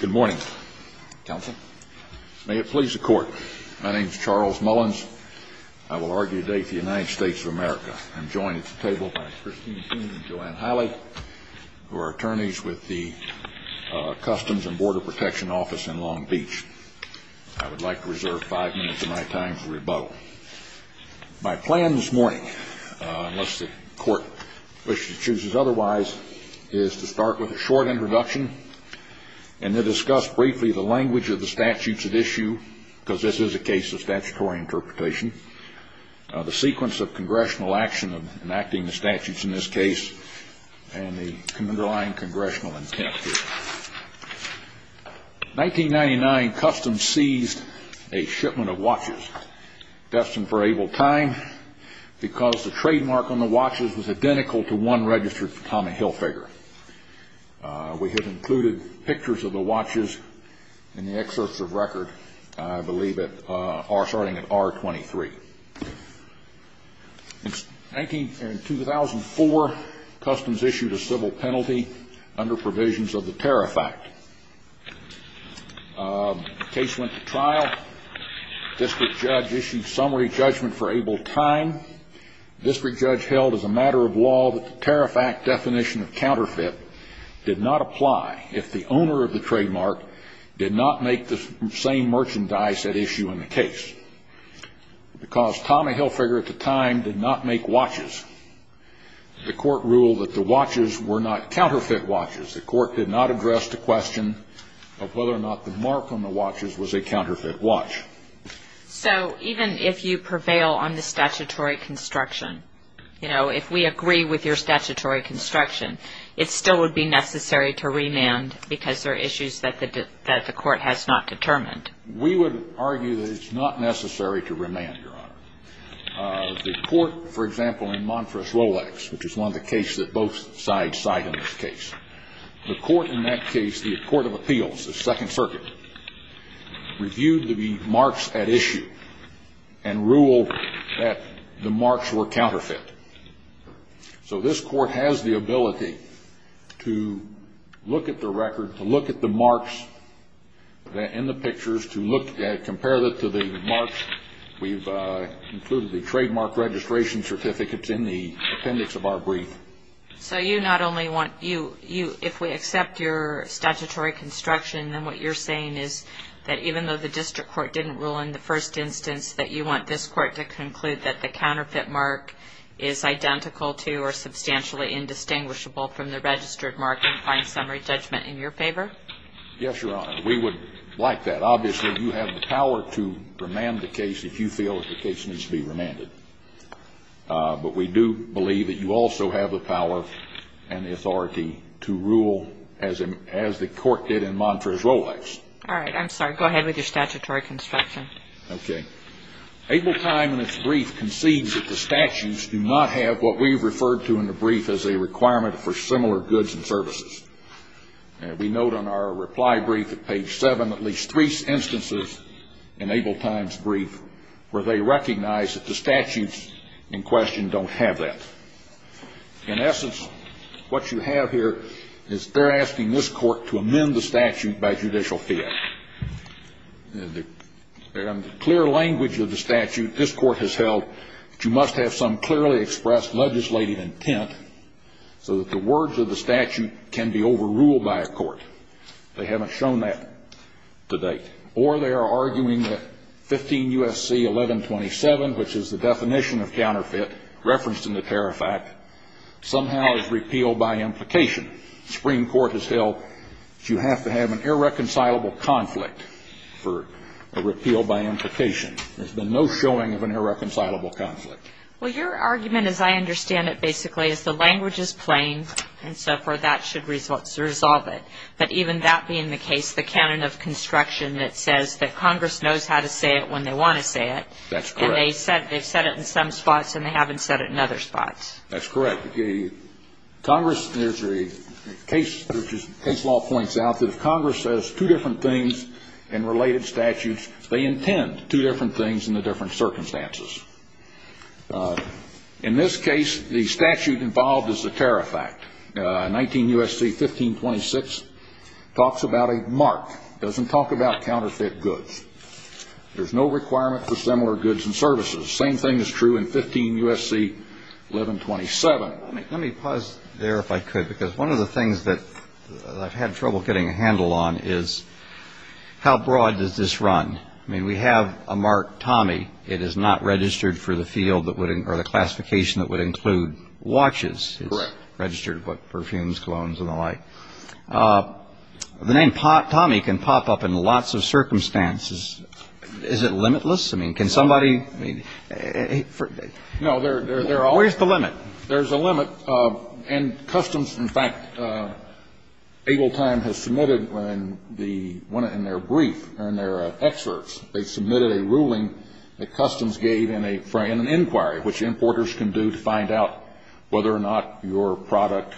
Good morning, counsel. May it please the court, my name is Charles Mullins. I will argue today for the United States of America. I'm joined at the table by Christine King and Joanne Holley, who are attorneys with the Customs and Border Protection Office in Long Beach. I would like to reserve five minutes of my time for rebuttal. My plan this morning, unless the court wishes to choose otherwise, is to start with a short introduction and then discuss briefly the language of the statutes at issue, because this is a case of statutory interpretation, the sequence of congressional action enacting the statutes in this case, and the underlying congressional intent here. 1999, Customs seized a shipment of watches destined for Able Time because the trademark on the watches was identical to one registered for Tommy Hilfiger. We have included pictures of the watches in the excerpts of record, I believe, starting at R23. In 2004, Customs issued a civil penalty under provisions of the Tariff Act. The case went to trial. The district judge issued summary judgment for Able Time. The district judge held as a matter of law that the Tariff Act definition of counterfeit did not apply if the owner of the trademark did not make the same merchandise at issue in the case, because Tommy Hilfiger at the time did not make watches. The court ruled that the watches were not counterfeit watches. The court did not address the question of whether or not the mark on the watches was a counterfeit watch. So even if you prevail on the statutory construction, you know, if we agree with your statutory construction, it still would be necessary to remand because there are issues that the court has not determined? We would argue that it's not necessary to remand, Your Honor. The court, for example, in Montrose-Rolex, which is one of the cases that both sides cite in this case, the court of appeals, the Second Circuit, reviewed the marks at issue and ruled that the marks were counterfeit. So this court has the ability to look at the record, to look at the marks in the pictures, to look at, compare them to the marks. We've included the trademark registration certificates in the appendix of our brief. So you not only want you, if we accept your statutory construction, then what you're saying is that even though the district court didn't rule in the first instance that you want this court to conclude that the counterfeit mark is identical to or substantially indistinguishable from the registered mark and find summary judgment in your favor? Yes, Your Honor. We would like that. Obviously, you have the power to remand the case if you feel that the case needs to be remanded. But we do believe that you also have the power and the authority to rule as the court did in Montrose-Rolex. All right. I'm sorry. Go ahead with your statutory construction. Okay. Able Time in its brief concedes that the statutes do not have what we've referred to in the brief as a requirement for similar goods and services. We note on our reply brief at page 7 at least three instances in Able Time's brief where they recognize that the in essence what you have here is they're asking this court to amend the statute by judicial fiat. In the clear language of the statute, this court has held that you must have some clearly expressed legislative intent so that the words of the statute can be overruled by a court. They haven't shown that to date. Or they are arguing that 15 U.S.C. 1127, which is the definition of counterfeit referenced in the Tariff Act, somehow is repealed by implication. The Supreme Court has held that you have to have an irreconcilable conflict for a repeal by implication. There's been no showing of an irreconcilable conflict. Well, your argument as I understand it basically is the language is plain and so forth. That should resolve it. But even that being the case, the canon of construction that says that Congress knows how to say it when they want to say it. That's correct. And they've said it in some spots and they haven't said it in other spots. That's correct. Congress, there's a case law points out that if Congress says two different things in related statutes, they intend two different things in the different circumstances. In this case, the statute involved is the Tariff Act. 19 U.S.C. 1526 talks about a mark. Doesn't talk about counterfeit goods. There's no requirement for similar goods and services. Same thing is true in 15 U.S.C. 1127. Let me pause there if I could because one of the things that I've had trouble getting a handle on is how broad does this run? I mean, we have a mark, Tommy. It is not registered for the field or the classification that would include watches. Correct. It's registered for perfumes, colognes, and the like. The name Tommy can pop up in lots of circumstances. Is it limitless? I mean, can somebody? No. Where's the limit? There's a limit. And Customs, in fact, Able Time has submitted in their brief or in their excerpts, they submitted a ruling that Customs gave in an inquiry, which importers can do to find out whether or not your product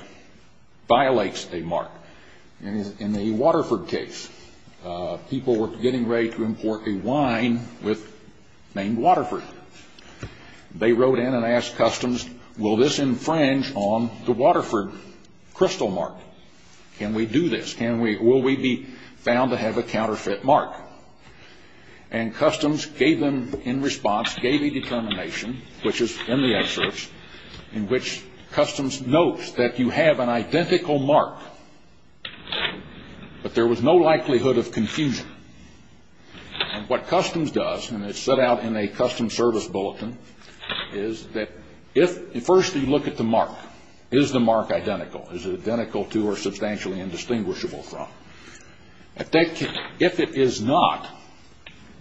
violates a mark. In the Waterford case, people were getting ready to import a wine named Waterford. They wrote in and asked Customs, will this infringe on the Waterford crystal mark? Can we do this? Will we be found to have a counterfeit mark? And Customs gave them, in response, gave a statement in which Customs notes that you have an identical mark, but there was no likelihood of confusion. And what Customs does, and it's set out in a Customs Service Bulletin, is that if, first you look at the mark. Is the mark identical? Is it identical to or substantially indistinguishable from? If it is not,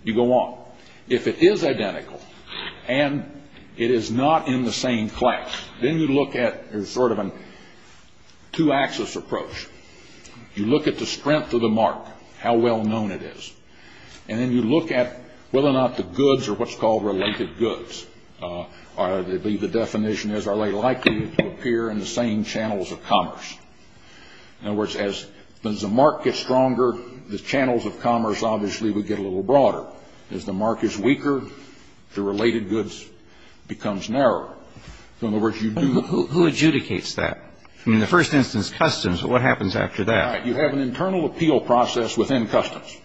you go on. If it is identical, and it is not in the same class, then you look at, there's sort of a two-axis approach. You look at the strength of the mark, how well-known it is. And then you look at whether or not the goods are what's called related goods. The definition is, are they likely to appear in the same channels of commerce? In other words, as the mark gets stronger, the channels of commerce obviously would get a little broader. As the mark is weaker, the related goods becomes narrower. In other words, you do Who adjudicates that? I mean, in the first instance, Customs, but what happens after that? Right. You have an internal appeal process within Customs.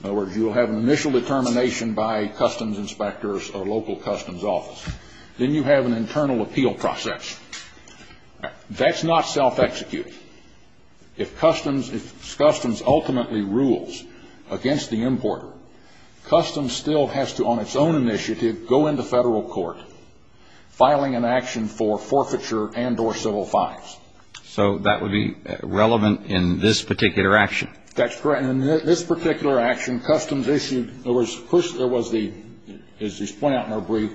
In other words, you will have an initial determination by Customs inspectors or local Customs office. Then you have an internal appeal process. That's not self-executed. If Customs ultimately rules against the importer, Customs still has to, on its own initiative, go into federal court, filing an action for forfeiture and or civil fines. So that would be relevant in this particular action? That's correct. In this particular action, Customs issued, there was, as he's pointed out in our brief,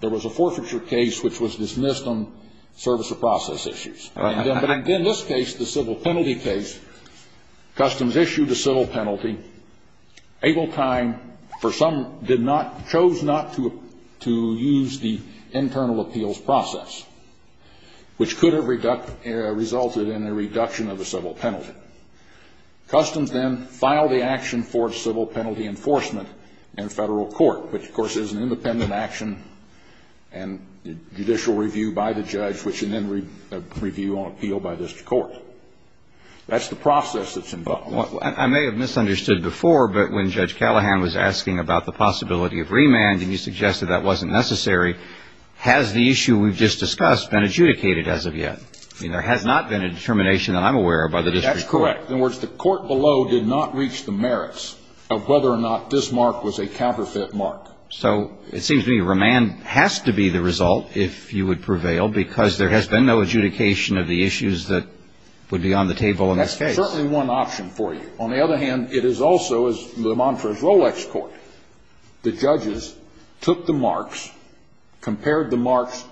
there was a forfeiture case which was dismissed on service of process issues. But in this case, the civil penalty case, Customs issued a civil penalty, able time, for some, did not, chose not to use the internal appeals process, which could have resulted in a reduction of the civil penalty. Customs then filed the action for civil penalty enforcement in federal court, which, of course, is an independent action and judicial review by the judge, which is then reviewed on appeal by district court. That's the process that's involved. Well, I may have misunderstood before, but when Judge Callahan was asking about the possibility of remand, and you suggested that wasn't necessary, has the issue we've just discussed been adjudicated as of yet? I mean, there has not been a determination that I'm aware of by the district court. That's correct. In other words, the court below did not reach the merits of whether or not this mark was a counterfeit mark. So it seems to me remand has to be the result if you would prevail, because there has been no adjudication of the issues that would be on the table in this case. Certainly one option for you. On the other hand, it is also, the mantra is Rolex court. The judges took the marks, compared the marks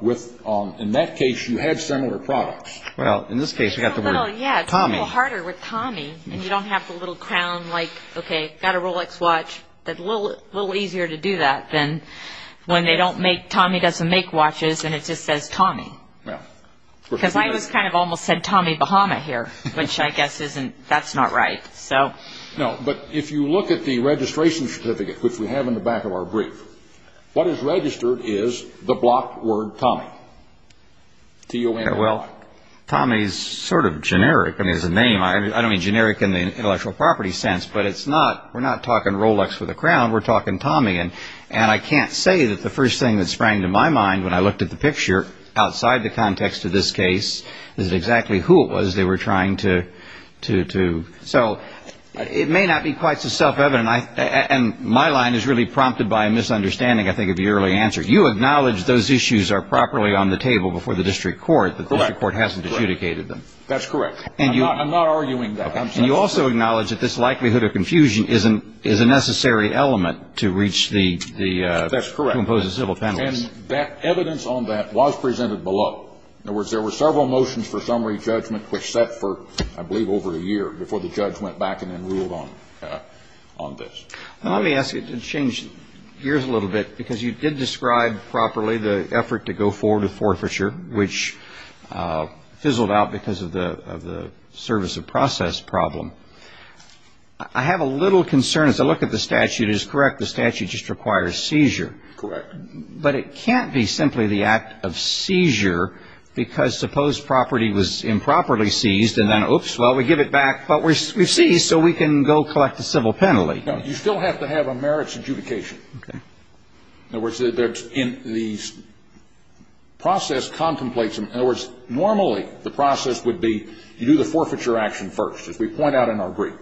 with, in that case, you had similar products. Well, in this case we have the word Tommy. Well, yeah, it's a little harder with Tommy, and you don't have the little crown like, okay, got a Rolex watch. It's a little easier to do that than when they don't make, Tommy doesn't make watches, and it just says Tommy. Because I almost kind of said Tommy Bahama here, which I guess isn't, that's not right. No, but if you look at the registration certificate, which we have in the back of our brief, what is registered is the block word Tommy, T-O-M-M-Y. Well, Tommy is sort of generic. I mean, it's a name. I don't mean generic in the intellectual property sense, but it's not, we're not talking Rolex with a crown. We're talking Tommy, and I can't say that the first thing that sprang to my mind when I looked at the picture outside the context of this case is exactly who it was they were trying to, so it may not be quite so self-evident, and my line is really prompted by a misunderstanding, I think, of your early answer. You acknowledge those issues are properly on the table before the district court, but the district court hasn't adjudicated them. That's correct. I'm not arguing that. And you also acknowledge that this likelihood of confusion is a necessary element to reach the, to impose a civil penalty. And that evidence on that was presented below. In other words, there were several motions for summary judgment which set for, I believe, over a year before the judge went back and then ruled on this. Let me ask you to change gears a little bit, because you did describe properly the effort to go forward with forfeiture, which fizzled out because of the service of process problem. I have a little concern, as I look at the statute, it is correct the statute just requires seizure. Correct. But it can't be simply the act of seizure, because suppose property was improperly seized and then, oops, well, we give it back, but we've seized, so we can go collect a civil penalty. No. You still have to have a merits adjudication. Okay. In other words, the process contemplates them. In other words, normally the process would be you do the forfeiture action first, as we point out in our brief.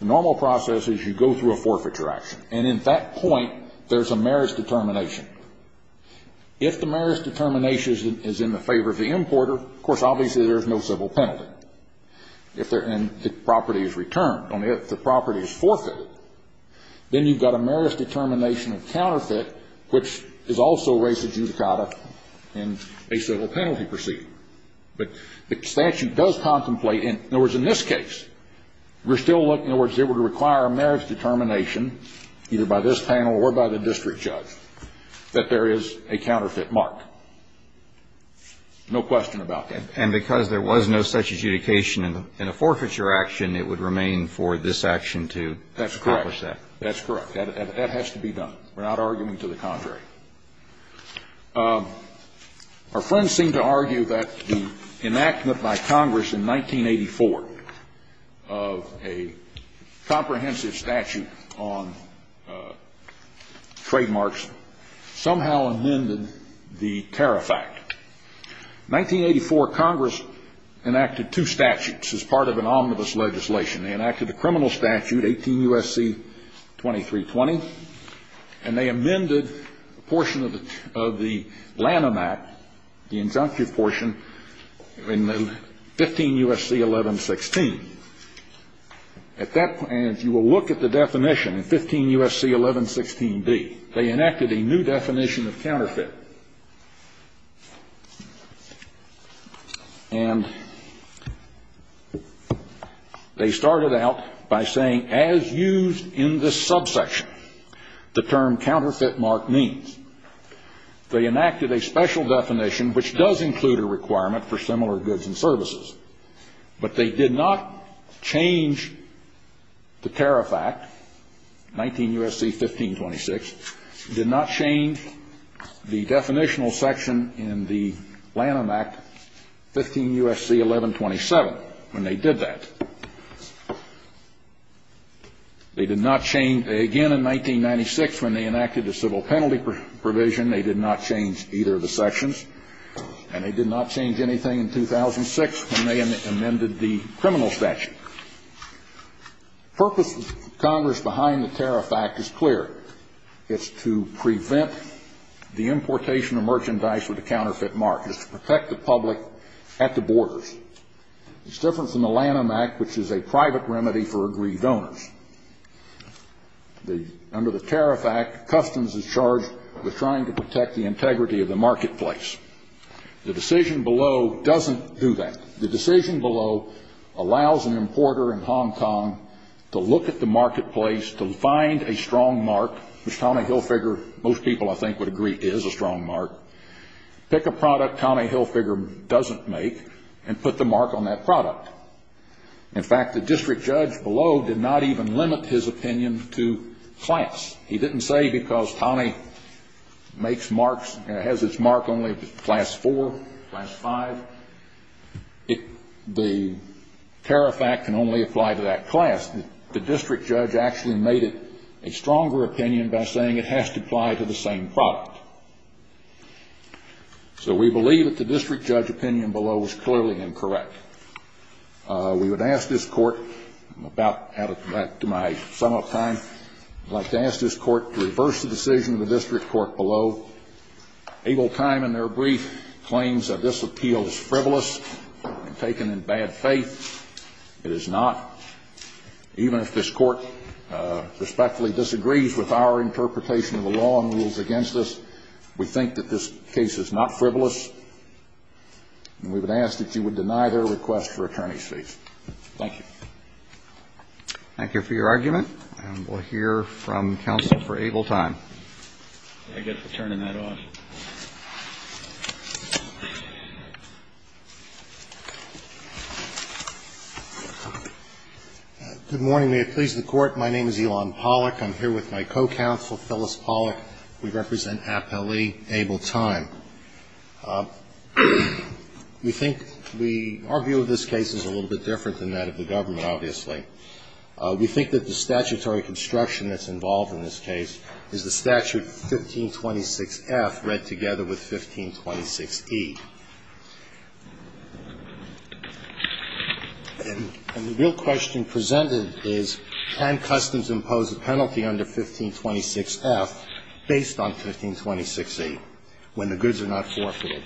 The normal process is you go through a forfeiture action. And at that point, there's a merits determination. If the merits determination is in the favor of the importer, of course, obviously, there's no civil penalty. If they're in, the property is returned. If the property is forfeited, then you've got a merits determination of counterfeit, which is also race adjudicata in a civil penalty proceeding. But the statute does contemplate. In other words, in this case, we're still looking. In other words, it would require a merits determination, either by this panel or by the district judge, that there is a counterfeit mark. No question about that. And because there was no such adjudication in a forfeiture action, it would remain for this action to accomplish that. That's correct. That has to be done. We're not arguing to the contrary. Our friends seem to argue that the enactment by Congress in 1984 of a comprehensive statute on trademarks somehow amended the Tariff Act. In 1984, Congress enacted two statutes as part of an omnibus legislation. They enacted the criminal statute, 18 U.S.C. 2320. And they amended a portion of the Lanham Act, the injunctive portion, in 15 U.S.C. 1116. At that point, and if you will look at the definition, in 15 U.S.C. 1116d, they enacted a new definition of counterfeit. And they started out by saying, as used in this subsection, the term counterfeit mark means. They enacted a special definition, which does include a requirement for similar goods and services. But they did not change the Tariff Act, 19 U.S.C. 1526. They did not change the definitional section in the Lanham Act, 15 U.S.C. 1127, when they did that. They did not change, again, in 1996, when they enacted the civil penalty provision, they did not change either of the sections. And they did not change anything in 2006 when they amended the criminal statute. The purpose of Congress behind the Tariff Act is clear. It's to prevent the importation of merchandise with a counterfeit mark. It's to protect the public at the borders. It's different from the Lanham Act, which is a private remedy for aggrieved owners. Under the Tariff Act, customs is charged with trying to protect the integrity of the marketplace. The decision below doesn't do that. The decision below allows an importer in Hong Kong to look at the marketplace, to find a strong mark, which Tommy Hilfiger, most people, I think, would agree is a strong mark, pick a product Tommy Hilfiger doesn't make and put the mark on that product. In fact, the district judge below did not even limit his opinion to class. He didn't say because Tommy makes marks, has its mark only with class four, class five, the Tariff Act can only apply to that class. The district judge actually made it a stronger opinion by saying it has to apply to the same product. So we believe that the district judge opinion below is clearly incorrect. We would ask this Court, back to my sum up time, I'd like to ask this Court to reverse the decision of the district court below. Able Time, in their brief, claims that this appeal is frivolous and taken in bad faith. It is not. Even if this Court respectfully disagrees with our interpretation of the law and rules against us, we think that this case is not frivolous. And we would ask that you would deny their request for attorney's fees. Thank you. Thank you for your argument. And we'll hear from counsel for Able Time. I guess we're turning that off. Good morning. May it please the Court. My name is Elon Pollack. I'm here with my co-counsel, Phyllis Pollack. We represent Appellee Able Time. We think we argue this case is a little bit different than that of the government, obviously. We think that the statutory construction that's involved in this case is the statute 1526F read together with 1526E. And the real question presented is can Customs impose a penalty under 1526F based on 1526E when the goods are not forfeited?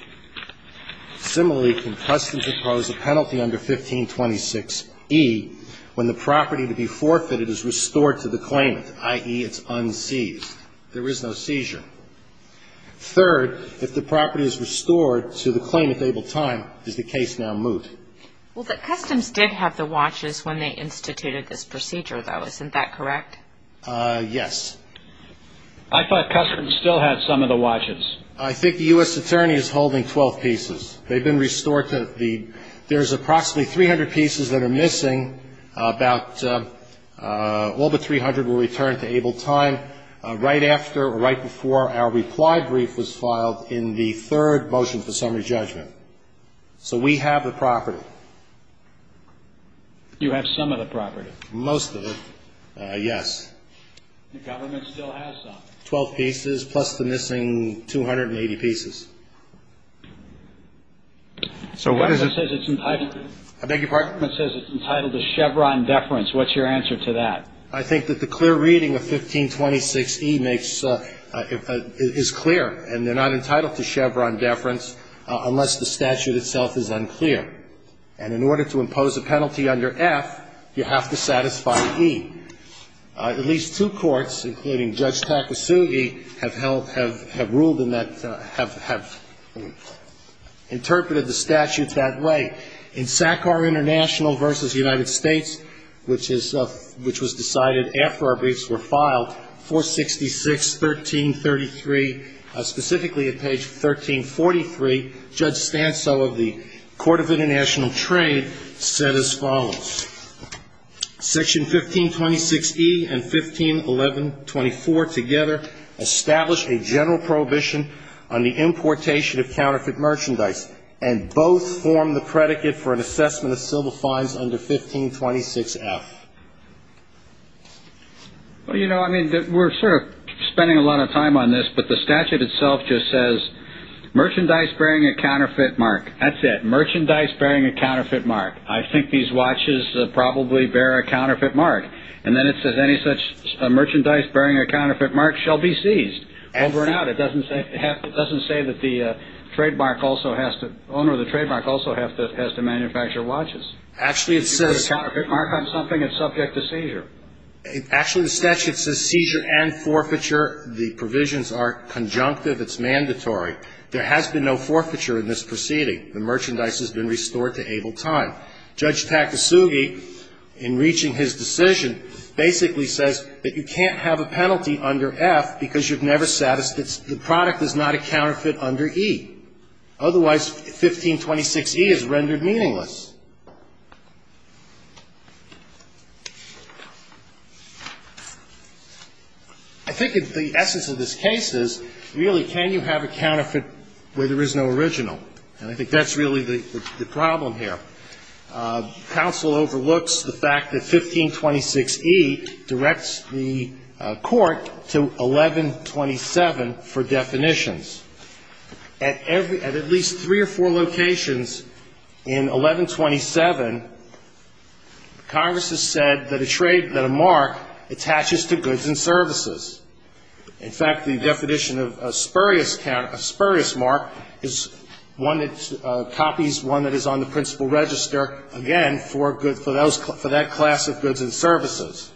Similarly, can Customs impose a penalty under 1526E when the property to be forfeited is restored to the claimant, i.e., it's unseized? There is no seizure. Third, if the property is restored to the claimant, Able Time, is the case now moot? Well, but Customs did have the watches when they instituted this procedure, though. Isn't that correct? Yes. I thought Customs still had some of the watches. I think the U.S. attorney is holding 12 pieces. They've been restored to the ñ there's approximately 300 pieces that are missing. About ñ well, the 300 will return to Able Time right after or right before our reply brief was filed in the third motion for summary judgment. So we have the property. You have some of the property. Most of it, yes. The government still has some. The government still has 12 pieces, plus the missing 280 pieces. So what is it? It says it's entitled to ñ I beg your pardon? It says it's entitled to Chevron deference. What's your answer to that? I think that the clear reading of 1526E makes ñ is clear, and they're not entitled to Chevron deference unless the statute itself is unclear. And in order to impose a penalty under F, you have to satisfy E. At least two courts, including Judge Takasugi, have ruled in that ñ have interpreted the statute that way. In SACAR International v. United States, which was decided after our briefs were filed, 466, 1333, specifically at page 1343, Judge Stanso of the Court of International Trade said as follows. Section 1526E and 1511.24 together establish a general prohibition on the importation of counterfeit merchandise, and both form the predicate for an assessment of civil fines under 1526F. Well, you know, I mean, we're sort of spending a lot of time on this, but the statute itself just says, merchandise bearing a counterfeit mark. That's it. Merchandise bearing a counterfeit mark. I think these watches probably bear a counterfeit mark. And then it says any such merchandise bearing a counterfeit mark shall be seized. Over and out. It doesn't say that the trademark also has to ñ owner of the trademark also has to manufacture watches. Actually, it says ñ If you put a counterfeit mark on something, it's subject to seizure. Actually, the statute says seizure and forfeiture. The provisions are conjunctive. It's mandatory. There has been no forfeiture in this proceeding. The merchandise has been restored to able time. Judge Takasugi, in reaching his decision, basically says that you can't have a penalty under F because you've never satisfied ñ the product is not a counterfeit under E. Otherwise, 1526E is rendered meaningless. I think the essence of this case is, really, can you have a counterfeit where there is no original? And I think that's really the problem here. Counsel overlooks the fact that 1526E directs the court to 1127 for definitions. At every ñ at at least three or four locations in 1127, Congress has said that a trade ñ that a mark attaches to goods and services. In fact, the definition of a spurious mark is one that copies one that is on the principal register, again, for good ñ for that class of goods and services.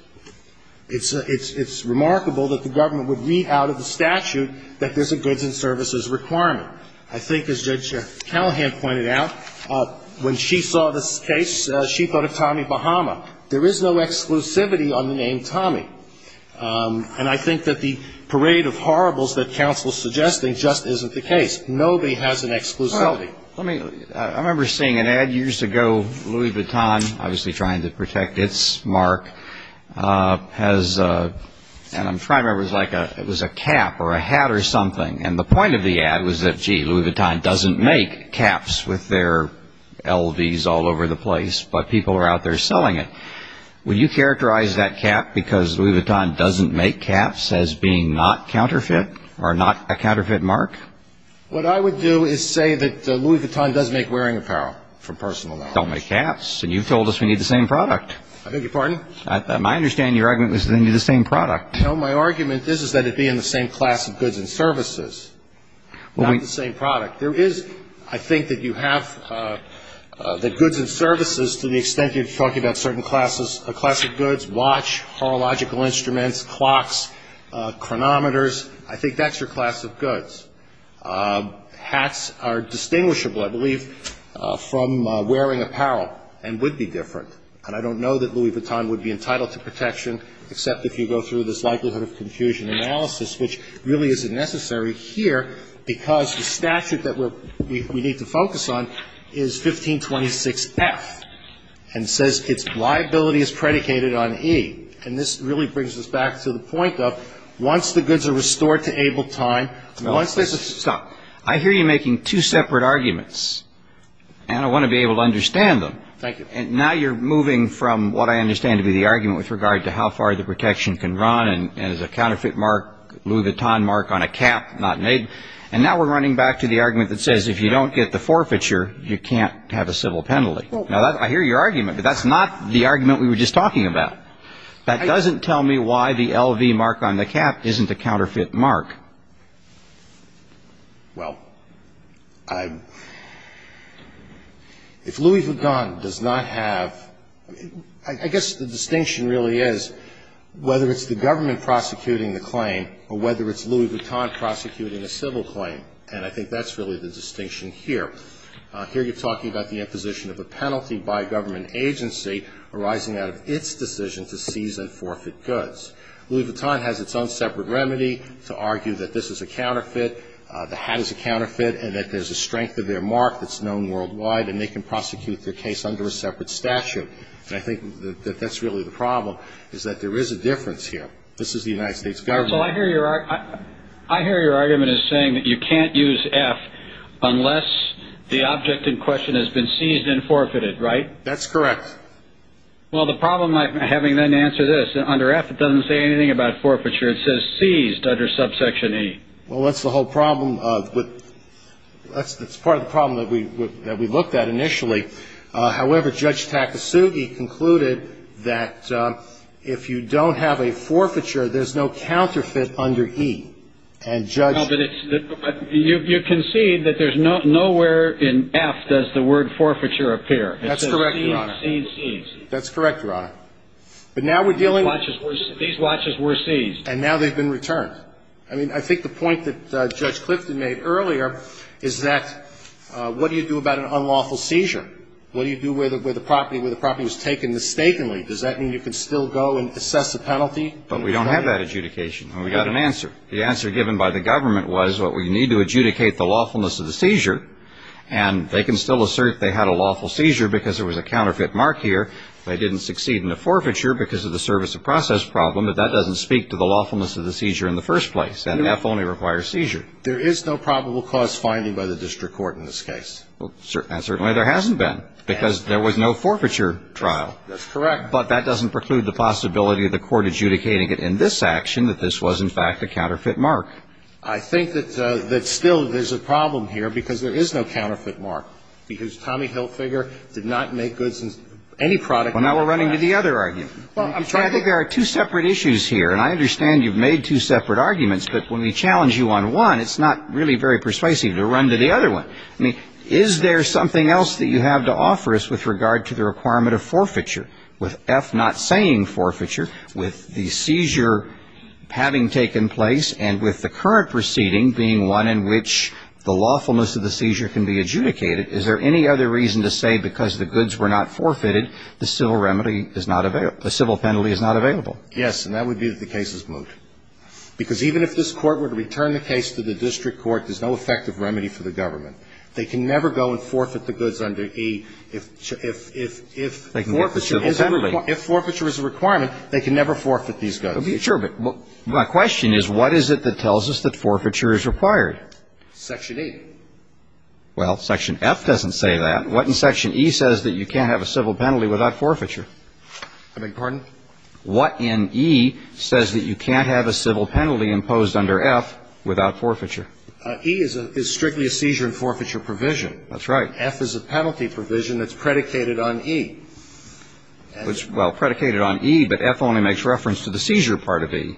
It's remarkable that the government would read out of the statute that there's a goods and services requirement. I think, as Judge Callahan pointed out, when she saw this case, she thought of Tommy Bahama. There is no exclusivity on the name Tommy. And I think that the parade of horribles that counsel is suggesting just isn't the case. Nobody has an exclusivity. I remember seeing an ad years ago. Louis Vuitton, obviously trying to protect its mark, has ñ and I'm trying to remember if it was like a ñ it was a cap or a hat or something. And the point of the ad was that, gee, Louis Vuitton doesn't make caps with their LVs all over the place, but people are out there selling it. Would you characterize that cap because Louis Vuitton doesn't make caps as being not counterfeit or not a counterfeit mark? What I would do is say that Louis Vuitton does make wearing apparel, for personal knowledge. Don't make caps. And you've told us we need the same product. I beg your pardon? I understand your argument that we need the same product. No, my argument is that it be in the same class of goods and services, not the same product. There is, I think, that you have the goods and services to the extent you're talking about certain classes ñ a class of goods, watch, horological instruments, clocks, chronometers. I think that's your class of goods. Hats are distinguishable, I believe, from wearing apparel and would be different. And I don't know that Louis Vuitton would be entitled to protection except if you go through this likelihood of confusion analysis, which really isn't necessary here because the statute that we need to focus on is 1526F and says its liability is predicated on E. And this really brings us back to the point of once the goods are restored to able time, once there's a ñ Stop. I hear you making two separate arguments. And I want to be able to understand them. Thank you. And now you're moving from what I understand to be the argument with regard to how far the protection can run and as a counterfeit mark, Louis Vuitton mark on a cap not made. And now we're running back to the argument that says if you don't get the forfeiture, you can't have a civil penalty. Now, I hear your argument, but that's not the argument we were just talking about. That doesn't tell me why the L.V. mark on the cap isn't a counterfeit mark. Well, if Louis Vuitton does not have ñ I guess the distinction really is whether it's the government prosecuting the claim or whether it's Louis Vuitton prosecuting a civil claim. And I think that's really the distinction here. Here you're talking about the imposition of a penalty by a government agency arising out of its decision to seize and forfeit goods. Louis Vuitton has its own separate remedy to argue that this is a counterfeit, the hat is a counterfeit, and that there's a strength of their mark that's known worldwide, and they can prosecute their case under a separate statute. And I think that that's really the problem, is that there is a difference here. This is the United States government. I hear your argument as saying that you can't use F unless the object in question has been seized and forfeited, right? That's correct. Well, the problem, having then answered this, under F it doesn't say anything about forfeiture. It says seized under subsection E. Well, that's the whole problem. That's part of the problem that we looked at initially. However, Judge Takasugi concluded that if you don't have a forfeiture, there's no counterfeit under E. And Judge ---- But you concede that nowhere in F does the word forfeiture appear. That's correct, Your Honor. Seized, seized, seized. That's correct, Your Honor. But now we're dealing with ---- These watches were seized. And now they've been returned. I mean, I think the point that Judge Clifton made earlier is that what do you do about an unlawful seizure? What do you do where the property was taken mistakenly? Does that mean you can still go and assess the penalty? But we don't have that adjudication. And we've got an answer. The answer given by the government was what we need to adjudicate the lawfulness of the seizure. And they can still assert they had a lawful seizure because there was a counterfeit mark here. They didn't succeed in the forfeiture because of the service of process problem. But that doesn't speak to the lawfulness of the seizure in the first place. And F only requires seizure. There is no probable cause finding by the district court in this case. And certainly there hasn't been because there was no forfeiture trial. That's correct. But that doesn't preclude the possibility of the court adjudicating it in this action that this was, in fact, a counterfeit mark. I think that still there's a problem here because there is no counterfeit mark, because Tommy Hilfiger did not make goods in any product. Well, now we're running to the other argument. Well, I'm trying to. I think there are two separate issues here. And I understand you've made two separate arguments. But when we challenge you on one, it's not really very persuasive to run to the other one. I mean, is there something else that you have to offer us with regard to the requirement of forfeiture, with F not saying forfeiture, with the seizure having taken place and with the current proceeding being one in which the lawfulness of the seizure can be adjudicated, is there any other reason to say because the goods were not forfeited, the civil remedy is not available, the civil penalty is not available? Yes, and that would be that the case is moot. Because even if this court were to return the case to the district court, there's no effective remedy for the government. They can never go and forfeit the goods under E if forfeiture is a requirement. If forfeiture is a requirement, they can never forfeit these goods. Sure. But my question is what is it that tells us that forfeiture is required? Section E. Well, Section F doesn't say that. What in Section E says that you can't have a civil penalty without forfeiture? I beg your pardon? What in E says that you can't have a civil penalty imposed under F without forfeiture? E is strictly a seizure and forfeiture provision. That's right. F is a penalty provision that's predicated on E. Well, predicated on E, but F only makes reference to the seizure part of E.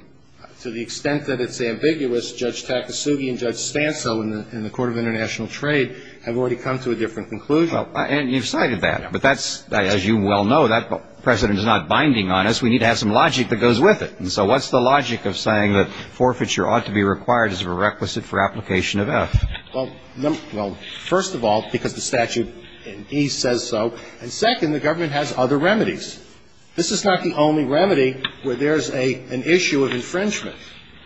To the extent that it's ambiguous, Judge Takasugi and Judge Stanso in the Court of International Trade have already come to a different conclusion. And you've cited that. But that's, as you well know, that precedent is not binding on us. We need to have some logic that goes with it. And so what's the logic of saying that forfeiture ought to be required as a requisite for application of F? Well, first of all, because the statute in E says so. And second, the government has other remedies. This is not the only remedy where there's an issue of infringement.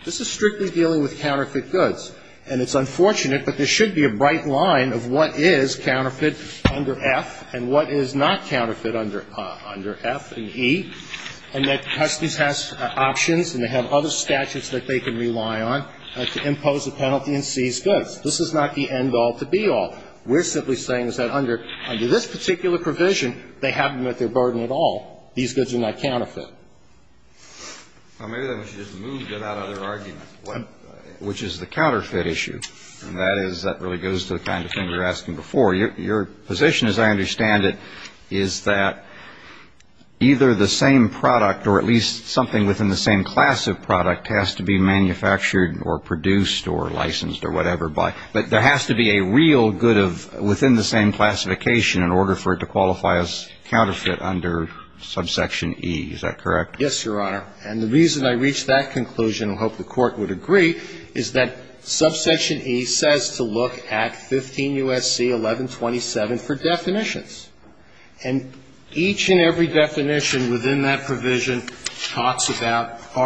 This is strictly dealing with counterfeit goods. And it's unfortunate, but there should be a bright line of what is counterfeit under F and what is not counterfeit under F in E. And that customs has options and they have other statutes that they can rely on to impose a penalty and seize goods. This is not the end-all to be-all. We're simply saying is that under this particular provision, they haven't met their burden at all. These goods are not counterfeit. Well, maybe then we should just move that out of their argument, which is the counterfeit issue. And that is, that really goes to the kind of thing we were asking before. Your position, as I understand it, is that either the same product or at least something within the same class of product has to be manufactured or produced or licensed or whatever, but there has to be a real good of within the same classification in order for it to qualify as counterfeit under subsection E. Is that correct? Yes, Your Honor. And the reason I reached that conclusion, and I hope the Court would agree, is that under subsection E, there is a definition of goods and services. And there is a definition of goods and services in Section 15 U.S.C. 1127 for definitions. And each and every definition within that provision talks about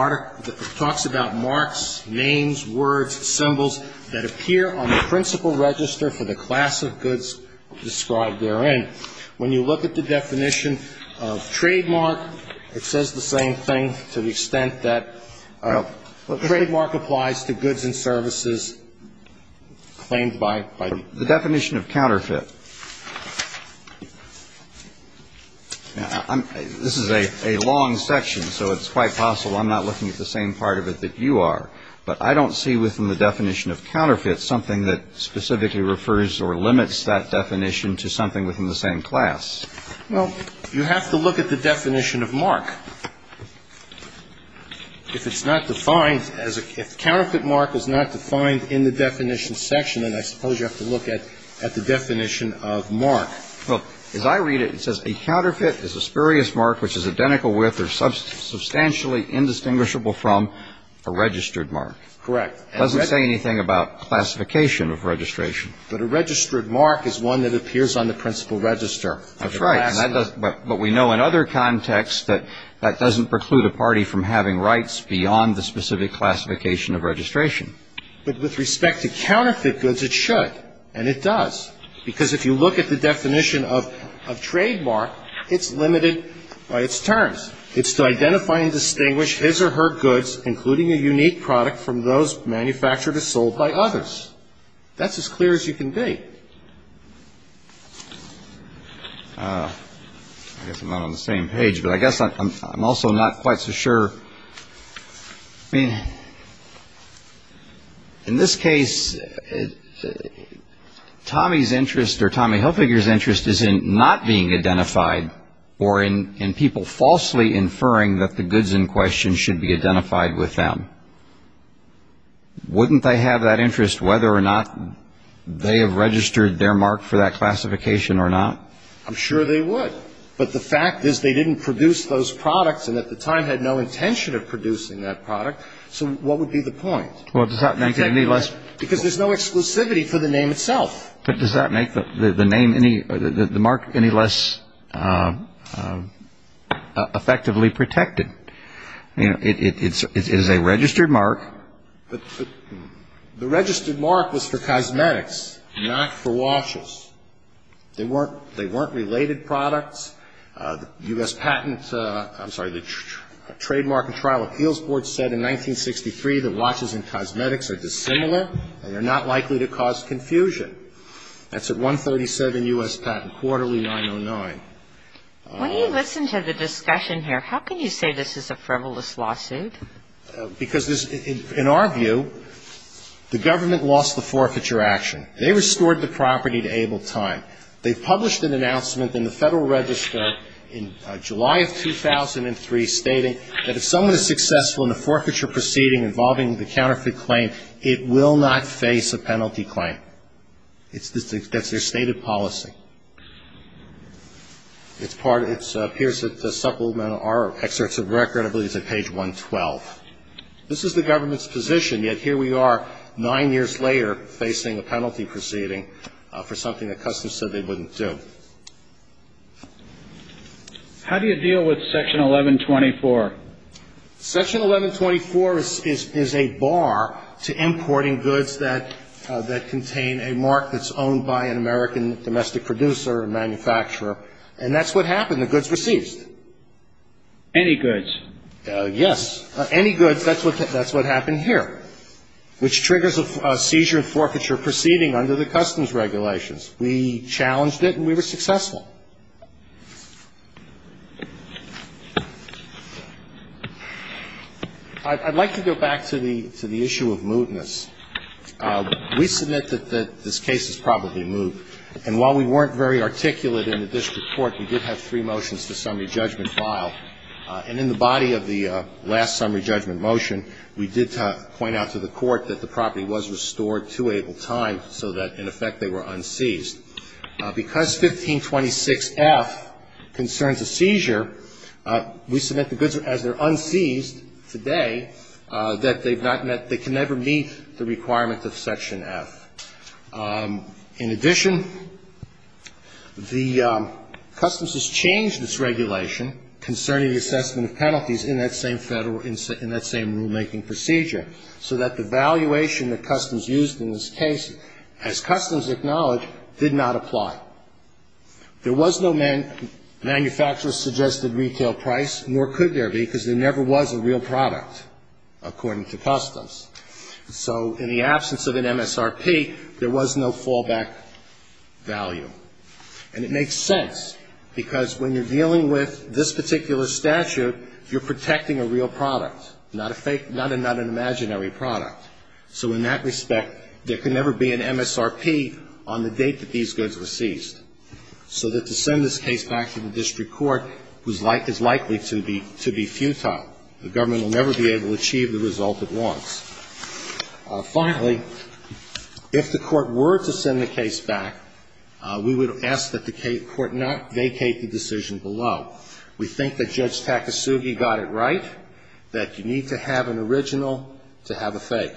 marks, names, words, symbols that appear on the principal register for the class of goods described therein. When you look at the definition of trademark, it says the same thing to the extent that a trademark applies to goods and services claimed by the State. The definition of counterfeit. This is a long section, so it's quite possible I'm not looking at the same part of it that you are. But I don't see within the definition of counterfeit something that specifically refers or limits that definition to something within the same class. Well, you have to look at the definition of mark. If it's not defined as a counterfeit mark is not defined in the definition section, then I suppose you have to look at the definition of mark. Well, as I read it, it says a counterfeit is a spurious mark which is identical with or substantially indistinguishable from a registered mark. Correct. It doesn't say anything about classification of registration. But a registered mark is one that appears on the principal register. That's right. But we know in other contexts that that doesn't preclude a party from having rights beyond the specific classification of registration. But with respect to counterfeit goods, it should. And it does. Because if you look at the definition of trademark, it's limited by its terms. It's to identify and distinguish his or her goods, including a unique product from those manufactured or sold by others. That's as clear as you can be. I guess I'm not on the same page, but I guess I'm also not quite so sure. I mean, in this case, Tommy's interest or Tommy Hilfiger's interest is in not being identified or in people falsely inferring that the goods in question should be identified with them. Wouldn't they have that interest whether or not they have registered their mark for that classification or not? I'm sure they would. But the fact is they didn't produce those products and at the time had no intention of producing that product. So what would be the point? Well, does that make it any less? Because there's no exclusivity for the name itself. But does that make the mark any less effectively protected? It is a registered mark. The registered mark was for cosmetics, not for washes. They weren't related products. U.S. Patent – I'm sorry, the Trademark and Trial Appeals Board said in 1963 that washes and cosmetics are dissimilar and they're not likely to cause confusion. That's at 137 U.S. Patent, quarterly 909. When you listen to the discussion here, how can you say this is a frivolous lawsuit? Because in our view, the government lost the forfeiture action. They restored the property to able time. They published an announcement in the Federal Register in July of 2003 stating that if someone is successful in a forfeiture proceeding involving the counterfeit claim, it will not face a penalty claim. That's their stated policy. It appears that the supplemental excerpts of the record, I believe, is at page 112. This is the government's position, yet here we are nine years later facing a penalty proceeding for something that Customs said they wouldn't do. How do you deal with Section 1124? Section 1124 is a bar to importing goods that contain a mark that's owned by an American domestic producer or manufacturer, and that's what happened. The goods were seized. Any goods? Yes. Any goods. That's what happened here, which triggers a seizure and forfeiture proceeding under the Customs regulations. We challenged it and we were successful. I'd like to go back to the issue of mootness. We submit that this case is probably moot. And while we weren't very articulate in the district court, we did have three motions to summary judgment filed. And in the body of the last summary judgment motion, we did point out to the court that the property was restored to Able Time so that, in effect, they were unseized. Because 1526F concerns a seizure, we submit the goods, as they're unseized today, that they've not met, they can never meet the requirements of Section F. In addition, the Customs has changed its regulation concerning the assessment of penalties in that same rulemaking procedure so that the valuation that Customs used in this case, as Customs acknowledged, did not apply. There was no manufacturer-suggested retail price, nor could there be because there never was a real product, according to Customs. So in the absence of an MSRP, there was no fallback value. And it makes sense, because when you're dealing with this particular statute, you're protecting a real product, not a fake, not an imaginary product. So in that respect, there can never be an MSRP on the date that these goods were seized, so that to send this case back to the district court is likely to be futile. The government will never be able to achieve the result it wants. Finally, if the Court were to send the case back, we would ask that the Court not vacate the decision below. We think that Judge Takasugi got it right, that you need to have an original to have a fake.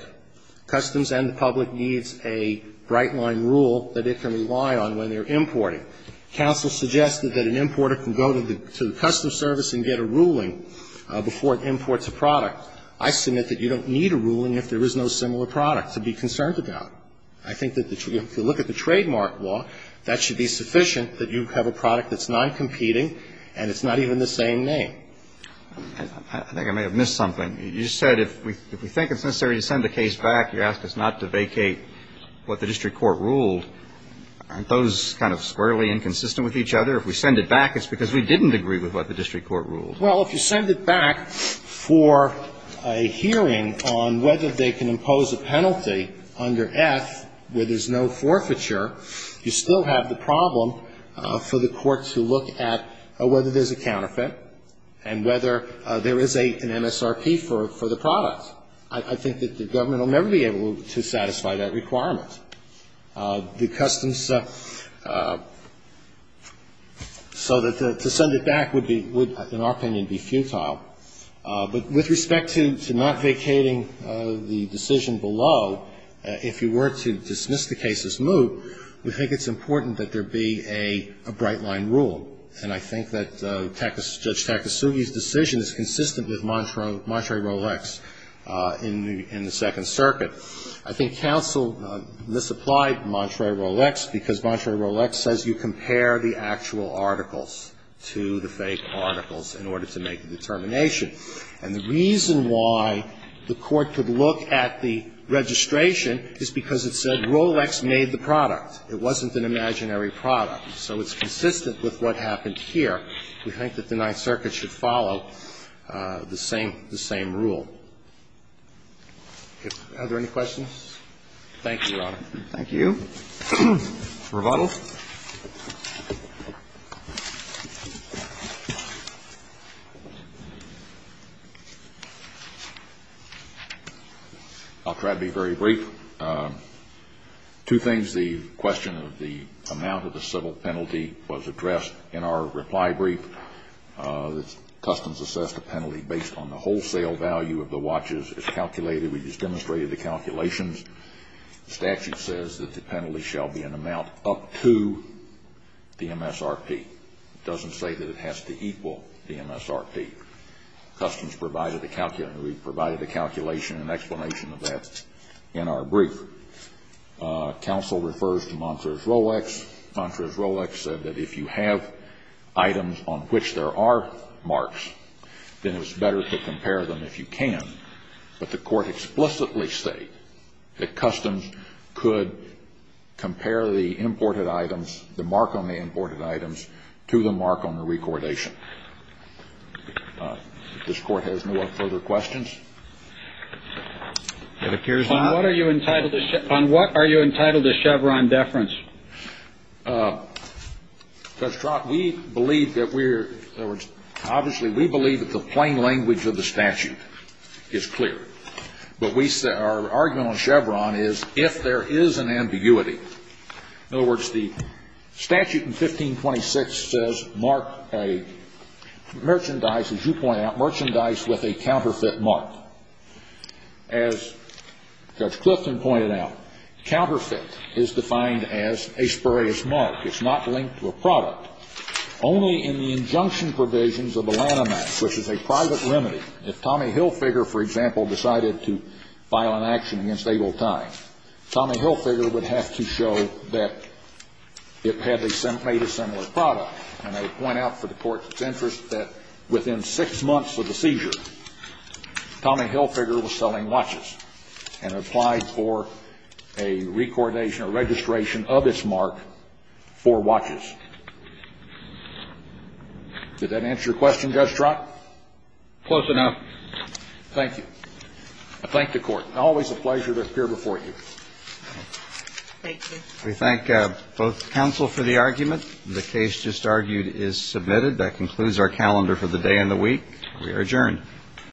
Customs and the public needs a bright-line rule that they can rely on when they're importing. Counsel suggested that an importer can go to the Customs service and get a ruling before it imports a product. I submit that you don't need a ruling if there is no similar product to be concerned about. I think that if you look at the trademark law, that should be sufficient that you have a product that's non-competing, and it's not even the same name. I think I may have missed something. You said if we think it's necessary to send the case back, you ask us not to vacate what the district court ruled. Aren't those kind of squarely inconsistent with each other? If we send it back, it's because we didn't agree with what the district court ruled. Well, if you send it back for a hearing on whether they can impose a penalty under F where there's no forfeiture, you still have the problem for the court to look at whether there's a counterfeit and whether there is an MSRP for the product. I think that the government will never be able to satisfy that requirement. The customs so that to send it back would be, in our opinion, be futile. But with respect to not vacating the decision below, if you were to dismiss the case as moot, we think it's important that there be a bright-line rule. And I think that Judge Takasugi's decision is consistent with Monterey-Rolex in the Second Circuit. I think counsel misapplied Monterey-Rolex because Monterey-Rolex says you compare the actual articles to the fake articles in order to make a determination. And the reason why the court could look at the registration is because it said Rolex made the product. It wasn't an imaginary product. So it's consistent with what happened here. We think that the Ninth Circuit should follow the same rule. Are there any questions? Thank you, Your Honor. Thank you. Rebuttals? I'll try to be very brief. Two things. The question of the amount of the civil penalty was addressed in our reply brief. The customs assessed a penalty based on the wholesale value of the watches as calculated. We just demonstrated the calculations. The statute says that the penalty shall be an amount up to the MSRP. It doesn't say that it has to equal the MSRP. Customs provided the calculation. We provided the calculation and explanation of that in our brief. Counsel refers to Monterey-Rolex. Monterey-Rolex said that if you have items on which there are marks, then it's better to compare them if you can. But the court explicitly stated that customs could compare the imported items, the mark on the imported items, to the mark on the recordation. If this court has no further questions. It appears not. On what are you entitled to Chevron deference? Judge Trott, we believe that we're, in other words, obviously we believe that the plain language of the statute is clear. But our argument on Chevron is if there is an ambiguity, in other words, the statute in 1526 says mark a merchandise, as you point out, merchandise with a counterfeit mark. As Judge Clifton pointed out, counterfeit is defined as a spurious mark. It's not linked to a product. Only in the injunction provisions of the Lanham Act, which is a private remedy, if Tommy Hilfiger, for example, decided to file an action against Abel Tye, Tommy Hilfiger would have to show that it had made a similar product. And I would point out for the Court's interest that within six months of the seizure, Tommy Hilfiger was selling watches and applied for a recordation or registration of its mark for watches. Did that answer your question, Judge Trott? Close enough. Thank you. I thank the Court. Always a pleasure to appear before you. Thank you. We thank both counsel for the argument. The case just argued is submitted. That concludes our calendar for the day and the week. We are adjourned.